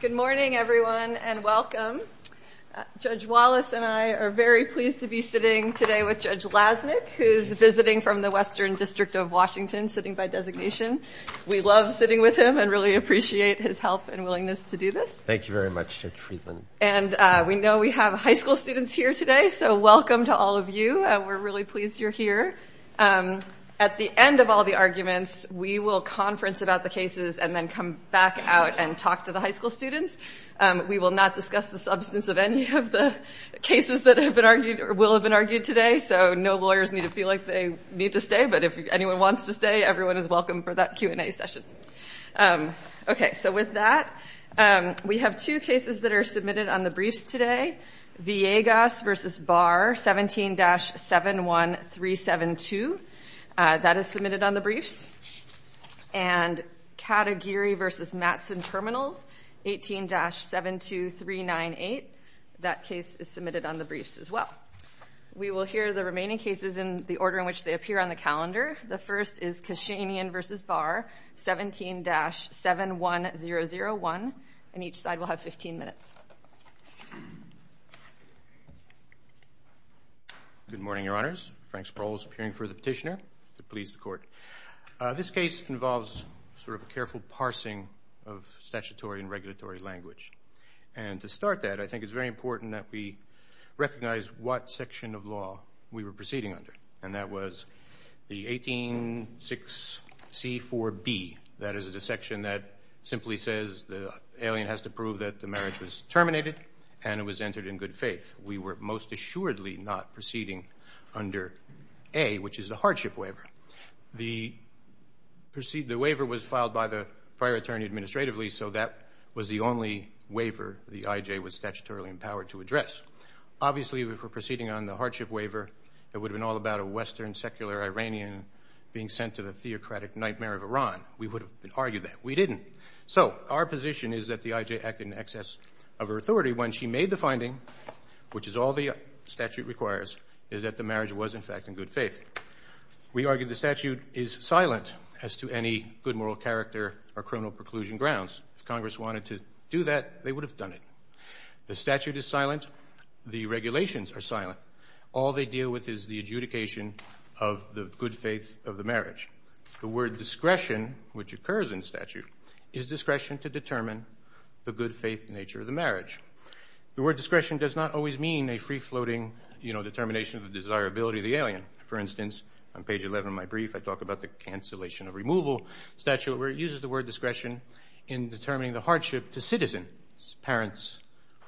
Good morning, everyone, and welcome. Judge Wallace and I are very pleased to be sitting today with Judge Lasnik, who's visiting from the Western District of Washington, sitting by designation. We love sitting with him and really appreciate his help and willingness to do this. Thank you very much, Judge Friedland. And we know we have high school students here today, so welcome to all of you. We're really pleased you're here. At the end of all the arguments, we will conference about the cases and then come back out and talk to the high school students. We will not discuss the substance of any of the cases that will have been argued today, so no lawyers need to feel like they need to stay. But if anyone wants to stay, everyone is welcome for that Q&A session. OK, so with that, we have two cases that are submitted on the briefs today. Villegas v. Barr, 17-71372, that is submitted on the briefs. And Category v. Mattson Terminals, 18-72398, that case is submitted on the briefs as well. We will hear the remaining cases in the order in which they appear on the calendar. The first is Kashanian v. Barr, 17-71001. And each side will have 15 minutes. Good morning, Your Honors. Frank Sproul is appearing for the petitioner to please the court. This case involves sort of a careful parsing of statutory and regulatory language. And to start that, I think it's very important that we recognize what section of law we were proceeding under. And that was the 18-6C-4B. That is a section that simply says the alien has to prove that the marriage was terminated and it was entered in good faith. We were most assuredly not proceeding under A, which is the hardship waiver. The waiver was filed by the prior attorney administratively, so that was the only waiver the IJ was statutorily empowered to address. Obviously, if we're proceeding on the hardship waiver, it would've been all about a Western secular Iranian being sent to the theocratic nightmare of Iran. We would've argued that. We didn't. So our position is that the IJ acted in excess of her authority. When she made the finding, which is all the statute requires, is that the marriage was, in fact, in good faith. We argue the statute is silent as to any good moral character or criminal preclusion grounds. If Congress wanted to do that, they would've done it. The statute is silent. The regulations are silent. All they deal with is the adjudication of the good faith of the marriage. The word discretion, which occurs in the statute, is discretion to determine the good faith nature of the marriage. determination of the desirability of the alien. For instance, on page 11 of my brief, I talk about the cancellation of removal statute, where it uses the word discretion in determining the hardship to citizens, parents,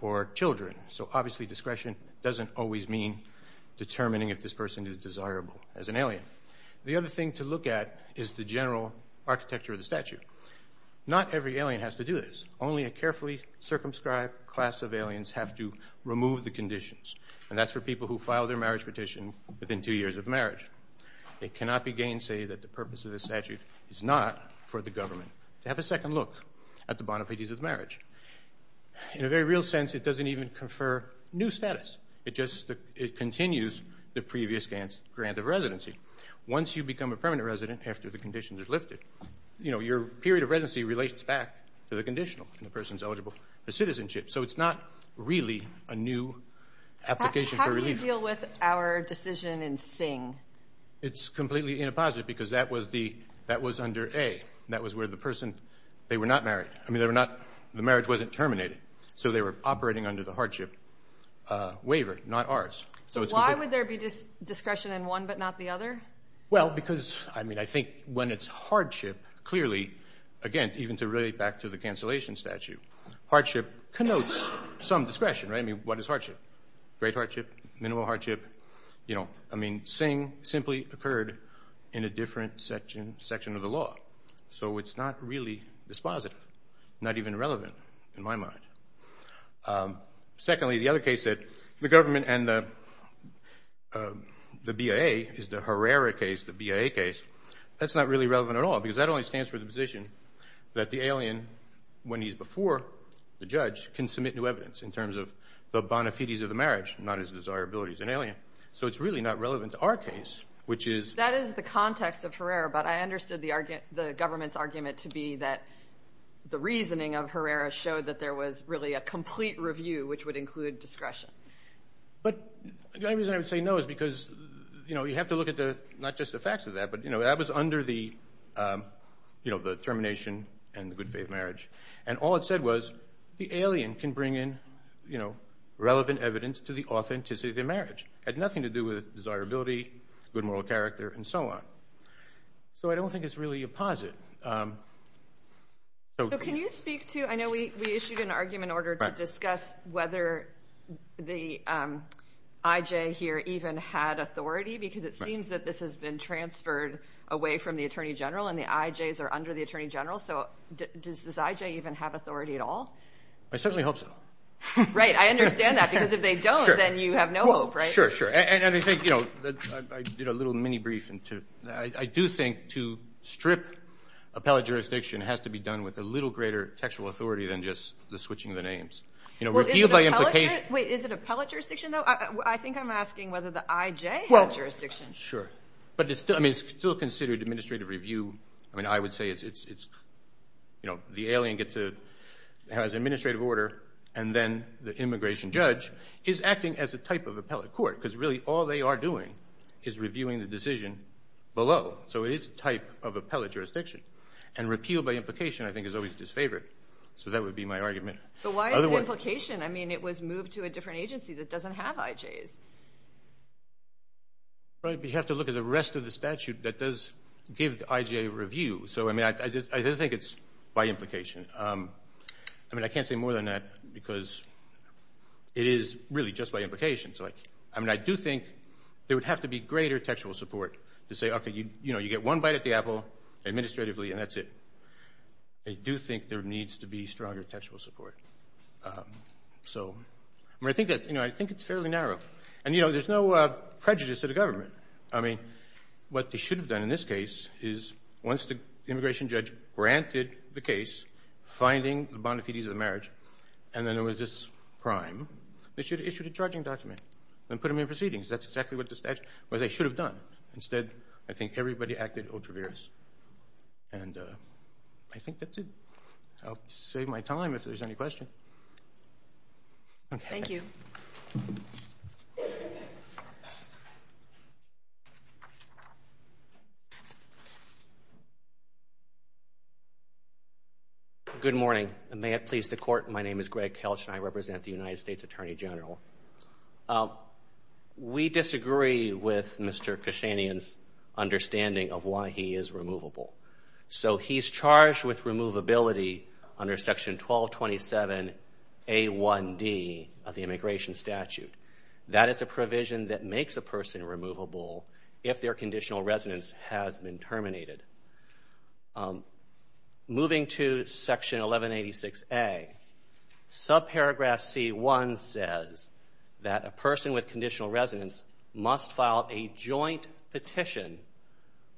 or children. So obviously, discretion doesn't always mean determining if this person is desirable as an alien. The other thing to look at is the general architecture of the statute. Not every alien has to do this. Only a carefully circumscribed class of aliens have to remove the conditions. And that's for people who file their marriage petition within two years of marriage. It cannot be gainsay that the purpose of the statute is not for the government to have a second look at the bona fides of marriage. In a very real sense, it doesn't even confer new status. It just continues the previous grant of residency. Once you become a permanent resident, after the conditions are lifted, your period of residency relates back to the conditional, and the person's eligible for citizenship. So it's not really a new application for relief. How do you deal with our decision in Sing? It's completely inapposite, because that was under A. That was where the person, they were not married. I mean, the marriage wasn't terminated. So they were operating under the hardship waiver, not ours. So why would there be discretion in one but not the other? Well, because I think when it's hardship, clearly, again, even to relate back to the cancellation statute, hardship connotes some discretion, right? I mean, what is hardship? Great hardship, minimal hardship. I mean, Sing simply occurred in a different section of the law. So it's not really dispositive, not even relevant in my mind. Secondly, the other case that the government and the BIA, is the Herrera case, the BIA case, that's not really relevant at all, because that only stands for the position that the alien, when he's before the judge, can submit new evidence in terms of the bona fides of the marriage, not his desirability as an alien. So it's really not relevant to our case, which is. That is the context of Herrera, but I understood the government's argument to be that the reasoning of Herrera showed that there was really a complete review, which would include discretion. But the only reason I would say no is because you have to look at not just the facts of that, but that was under the termination and the good faith marriage. And all it said was, the alien can bring in relevant evidence to the authenticity of the marriage. It had nothing to do with desirability, good moral character, and so on. So I don't think it's really a posit. So can you speak to, I know we issued an argument order to discuss whether the IJ here even had authority, because it seems that this has been transferred away from the Attorney General, and the IJs are under the Attorney General. So does the IJ even have authority at all? I certainly hope so. Right, I understand that, because if they don't, then you have no hope, right? Sure, sure. And I think, you know, I did a little mini-brief. I do think to strip appellate jurisdiction has to be done with a little greater textual authority than just the switching of the names. You know, repealed by implication. Wait, is it appellate jurisdiction, though? I think I'm asking whether the IJ had jurisdiction. Sure. But it's still considered administrative review. I mean, I would say it's, you know, the alien has administrative order, and then the immigration judge is acting as a type of appellate court. Because really, all they are doing is reviewing the decision below. So it is a type of appellate jurisdiction. And repeal by implication, I think, is always disfavored. So that would be my argument. But why is it implication? I mean, it was moved to a different agency that doesn't have IJs. Right, but you have to look at the rest of the statute that does give the IJ a review. So I mean, I don't think it's by implication. I mean, I can't say more than that, because it is really just by implication. I mean, I do think there would have to be greater textual support to say, OK, you know, you get one bite at the apple administratively, and that's it. I do think there needs to be stronger textual support. So I mean, I think it's fairly narrow. And you know, there's no prejudice to the government. I mean, what they should have done in this case is, once the immigration judge granted the case, finding the bona fides of the marriage, and then there was this crime, they should have issued a charging document and put them in proceedings. That's exactly what the statute, what they should have done. Instead, I think everybody acted ultra-virus. And I think that's it. I'll save my time if there's any question. Thank you. Thank you. Good morning. May it please the court, my name is Greg Kelch, and I represent the United States Attorney General. We disagree with Mr. Kashanian's understanding of why he is removable. So he's charged with removability under section 1227 A1D of the immigration statute. That is a provision that makes a person removable if their conditional residence has been terminated. Moving to section 1186 A, subparagraph C1 says that a person with conditional residence must file a joint petition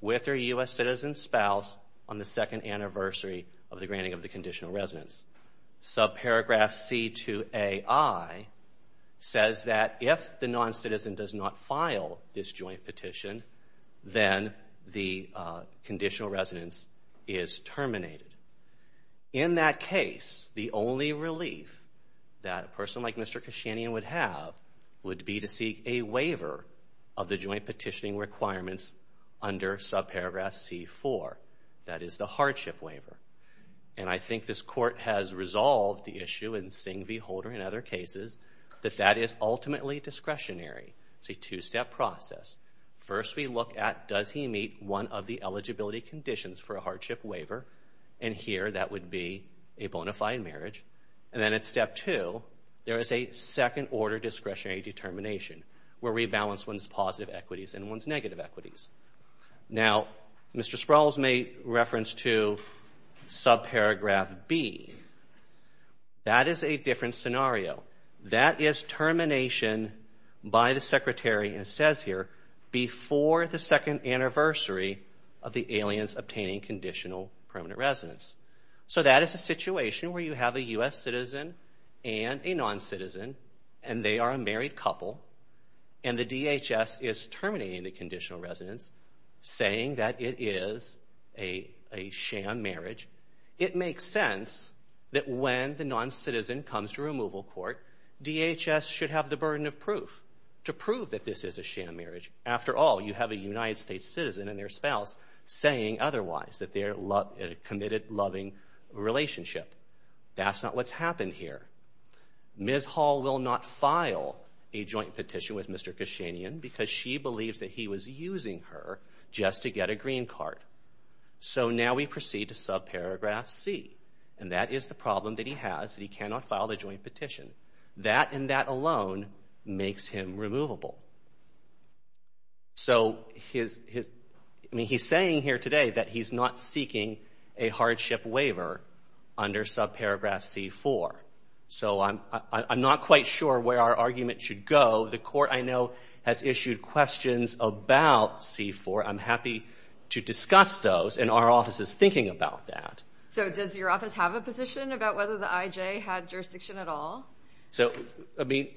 with their US citizen spouse on the second anniversary of the granting of the conditional residence. Subparagraph C2AI says that if the non-citizen does not file this joint petition, then the conditional residence is terminated. In that case, the only relief that a person like Mr. Kashanian would have would be to seek a waiver of the joint petitioning requirements under subparagraph C4. That is the hardship waiver. And I think this court has resolved the issue in Singh v. Holder and other cases that that is ultimately discretionary. It's a two-step process. First, we look at, does he meet one of the eligibility conditions for a hardship waiver? And here, that would be a bona fide marriage. And then at step two, there is a second-order discretionary determination, where we balance one's positive equities and one's negative equities. Now, Mr. Sproul's made reference to subparagraph B. That is a different scenario. That is termination by the secretary, and it says here, before the second anniversary of the aliens obtaining conditional permanent residence. So that is a situation where you have a US citizen and a non-citizen. And they are a married couple. And the DHS is terminating the conditional residence, saying that it is a sham marriage. It makes sense that when the non-citizen comes to removal court, DHS should have the burden of proof to prove that this is a sham marriage. After all, you have a United States citizen and their spouse saying otherwise, that they're in a committed, loving relationship. That's not what's happened here. Ms. Hall will not file a joint petition with Mr. Kashanian, because she believes that he was using her just to get a green card. So now we proceed to subparagraph C. And that is the problem that he has, that he cannot file the joint petition. That, and that alone, makes him removable. So he's saying here today that he's not under subparagraph C-4. So I'm not quite sure where our argument should go. The court, I know, has issued questions about C-4. I'm happy to discuss those. And our office is thinking about that. So does your office have a position about whether the IJ had jurisdiction at all? So, I mean,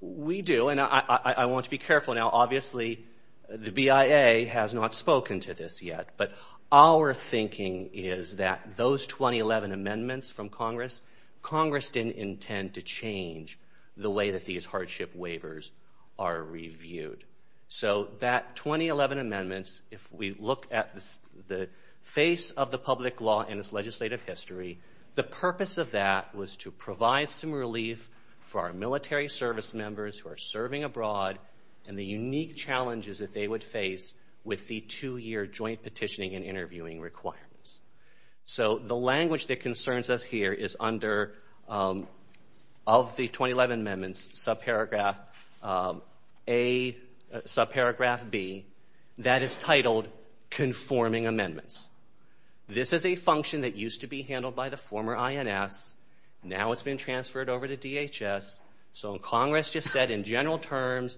we do. And I want to be careful now. Obviously, the BIA has not spoken to this yet. But our thinking is that those 2011 amendments from Congress, Congress didn't intend to change the way that these hardship waivers are reviewed. So that 2011 amendments, if we look at the face of the public law and its legislative history, the purpose of that was to provide some relief for our military service members who are serving abroad and the unique challenges that they would face with the two-year joint petitioning and interviewing requirements. So the language that concerns us here is under, of the 2011 amendments, subparagraph A, subparagraph B, that is titled conforming amendments. This is a function that used to be handled by the former INS. Now it's been transferred over to DHS. So Congress just said, in general terms,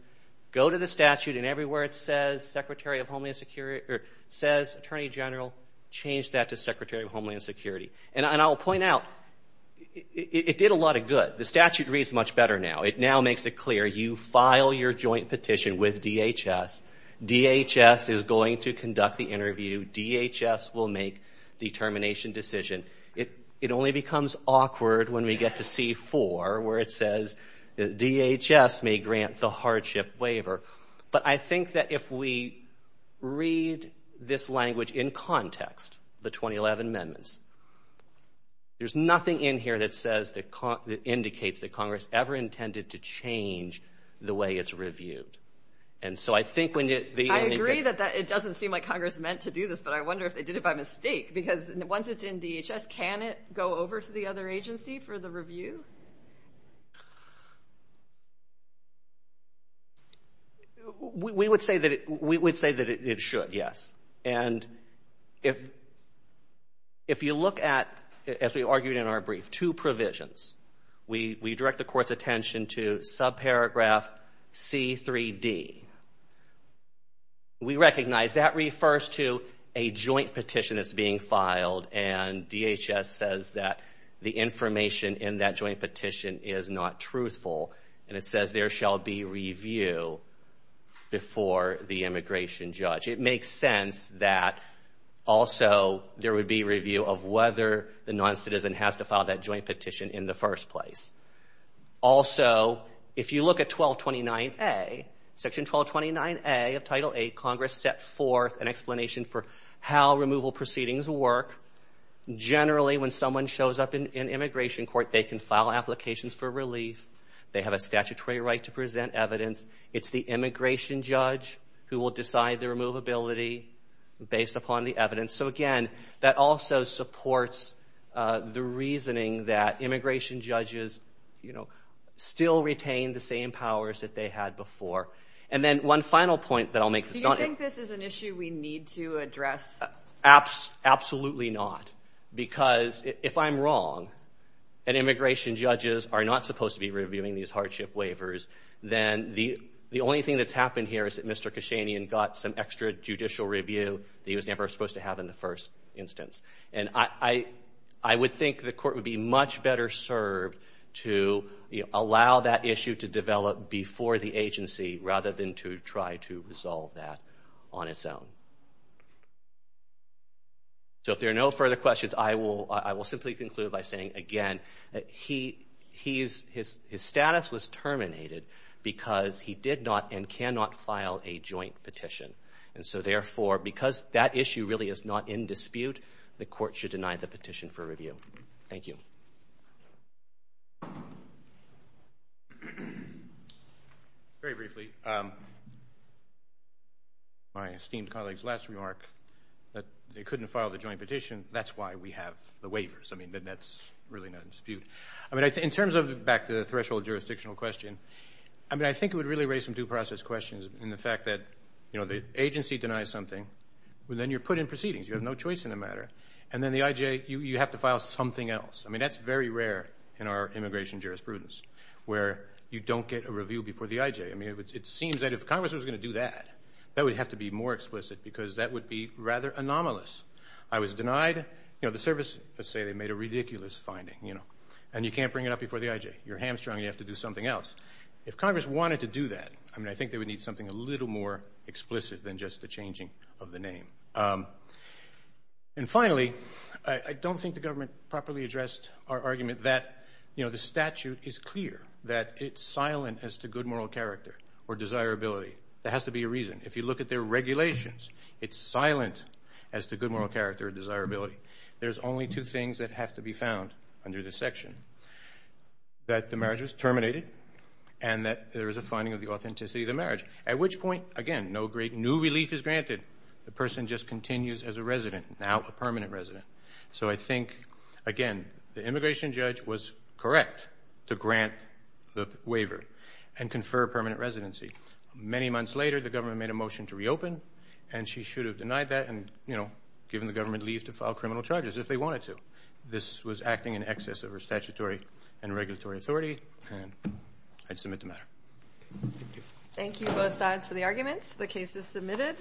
go to the statute. And everywhere it says Secretary of Homeland Security, or says Attorney General, change that to Secretary of Homeland Security. And I'll point out, it did a lot of good. The statute reads much better now. It now makes it clear. You file your joint petition with DHS. DHS is going to conduct the interview. DHS will make the termination decision. It only becomes awkward when we get to C4, where it says, DHS may grant the hardship waiver. But I think that if we read this language in context, the 2011 amendments, there's nothing in here that says, that indicates that Congress ever intended to change the way it's reviewed. And so I think when you, the, I agree that it doesn't seem like Congress meant to do this, but I wonder if they did it by mistake. Because once it's in DHS, can it go over to the other agency for the review? We would say that it should, yes. And if you look at, as we argued in our brief, two provisions, we direct the court's attention to subparagraph C3D. We recognize that refers to a joint petition that's being filed, and DHS says that the information in that joint petition is not truthful. And it says there shall be review before the immigration judge. It makes sense that also there would be review of whether the non-citizen has to file that joint petition in the first place. Also, if you look at 1229A, section 1229A of Title VIII, Congress set forth an explanation for how removal proceedings work. Generally, when someone shows up in immigration court, they can file applications for relief. They have a statutory right to present evidence. It's the immigration judge who will decide the removability based upon the evidence. So again, that also supports the reasoning that immigration judges still retain the same powers that they had before. And then one final point that I'll make. Do you think this is an issue we need to address? Absolutely not. Because if I'm wrong, and immigration judges are not supposed to be reviewing these hardship waivers, then the only thing that's happened here is that Mr. Kashanian got some extra judicial review that he was never supposed to have in the first instance. And I would think the court would be much better served to allow that issue to develop before the agency rather than to try to resolve that on its own. So if there are no further questions, I will simply conclude by saying, again, his status was terminated because he did not and cannot file a joint petition. And so therefore, because that issue really is not in dispute, the court should deny the petition for review. Thank you. Thank you. Very briefly. My esteemed colleague's last remark that they couldn't file the joint petition. That's why we have the waivers. I mean, that's really not in dispute. I mean, in terms of, back to the threshold jurisdictional question, I mean, I think it would really raise some due process questions in the fact that, you know, the agency denies something, but then you're put in proceedings. You have no choice in the matter. And then the IJ, you have to file something else. I mean, that's very rare in our immigration jurisprudence, where you don't get a review before the IJ. I mean, it seems that if Congress was gonna do that, that would have to be more explicit because that would be rather anomalous. I was denied, you know, the service, let's say they made a ridiculous finding, you know, and you can't bring it up before the IJ. You're hamstrung, you have to do something else. If Congress wanted to do that, I mean, I think they would need something a little more explicit than just the changing of the name. And finally, I don't think the government properly addressed our argument that, you know, the statute is clear, that it's silent as to good moral character or desirability. There has to be a reason. If you look at their regulations, it's silent as to good moral character or desirability. There's only two things that have to be found under this section, that the marriage was terminated, and that there is a finding of the authenticity of the marriage, at which point, again, no great new relief is granted. The person just continues as a resident, now a permanent resident. So I think, again, the immigration judge was correct to grant the waiver and confer permanent residency. Many months later, the government made a motion to reopen, and she should have denied that, and, you know, given the government leave to file criminal charges if they wanted to. This was acting in excess of her statutory and regulatory authority, and I'd submit the matter. Thank you both sides for the arguments. The case is submitted.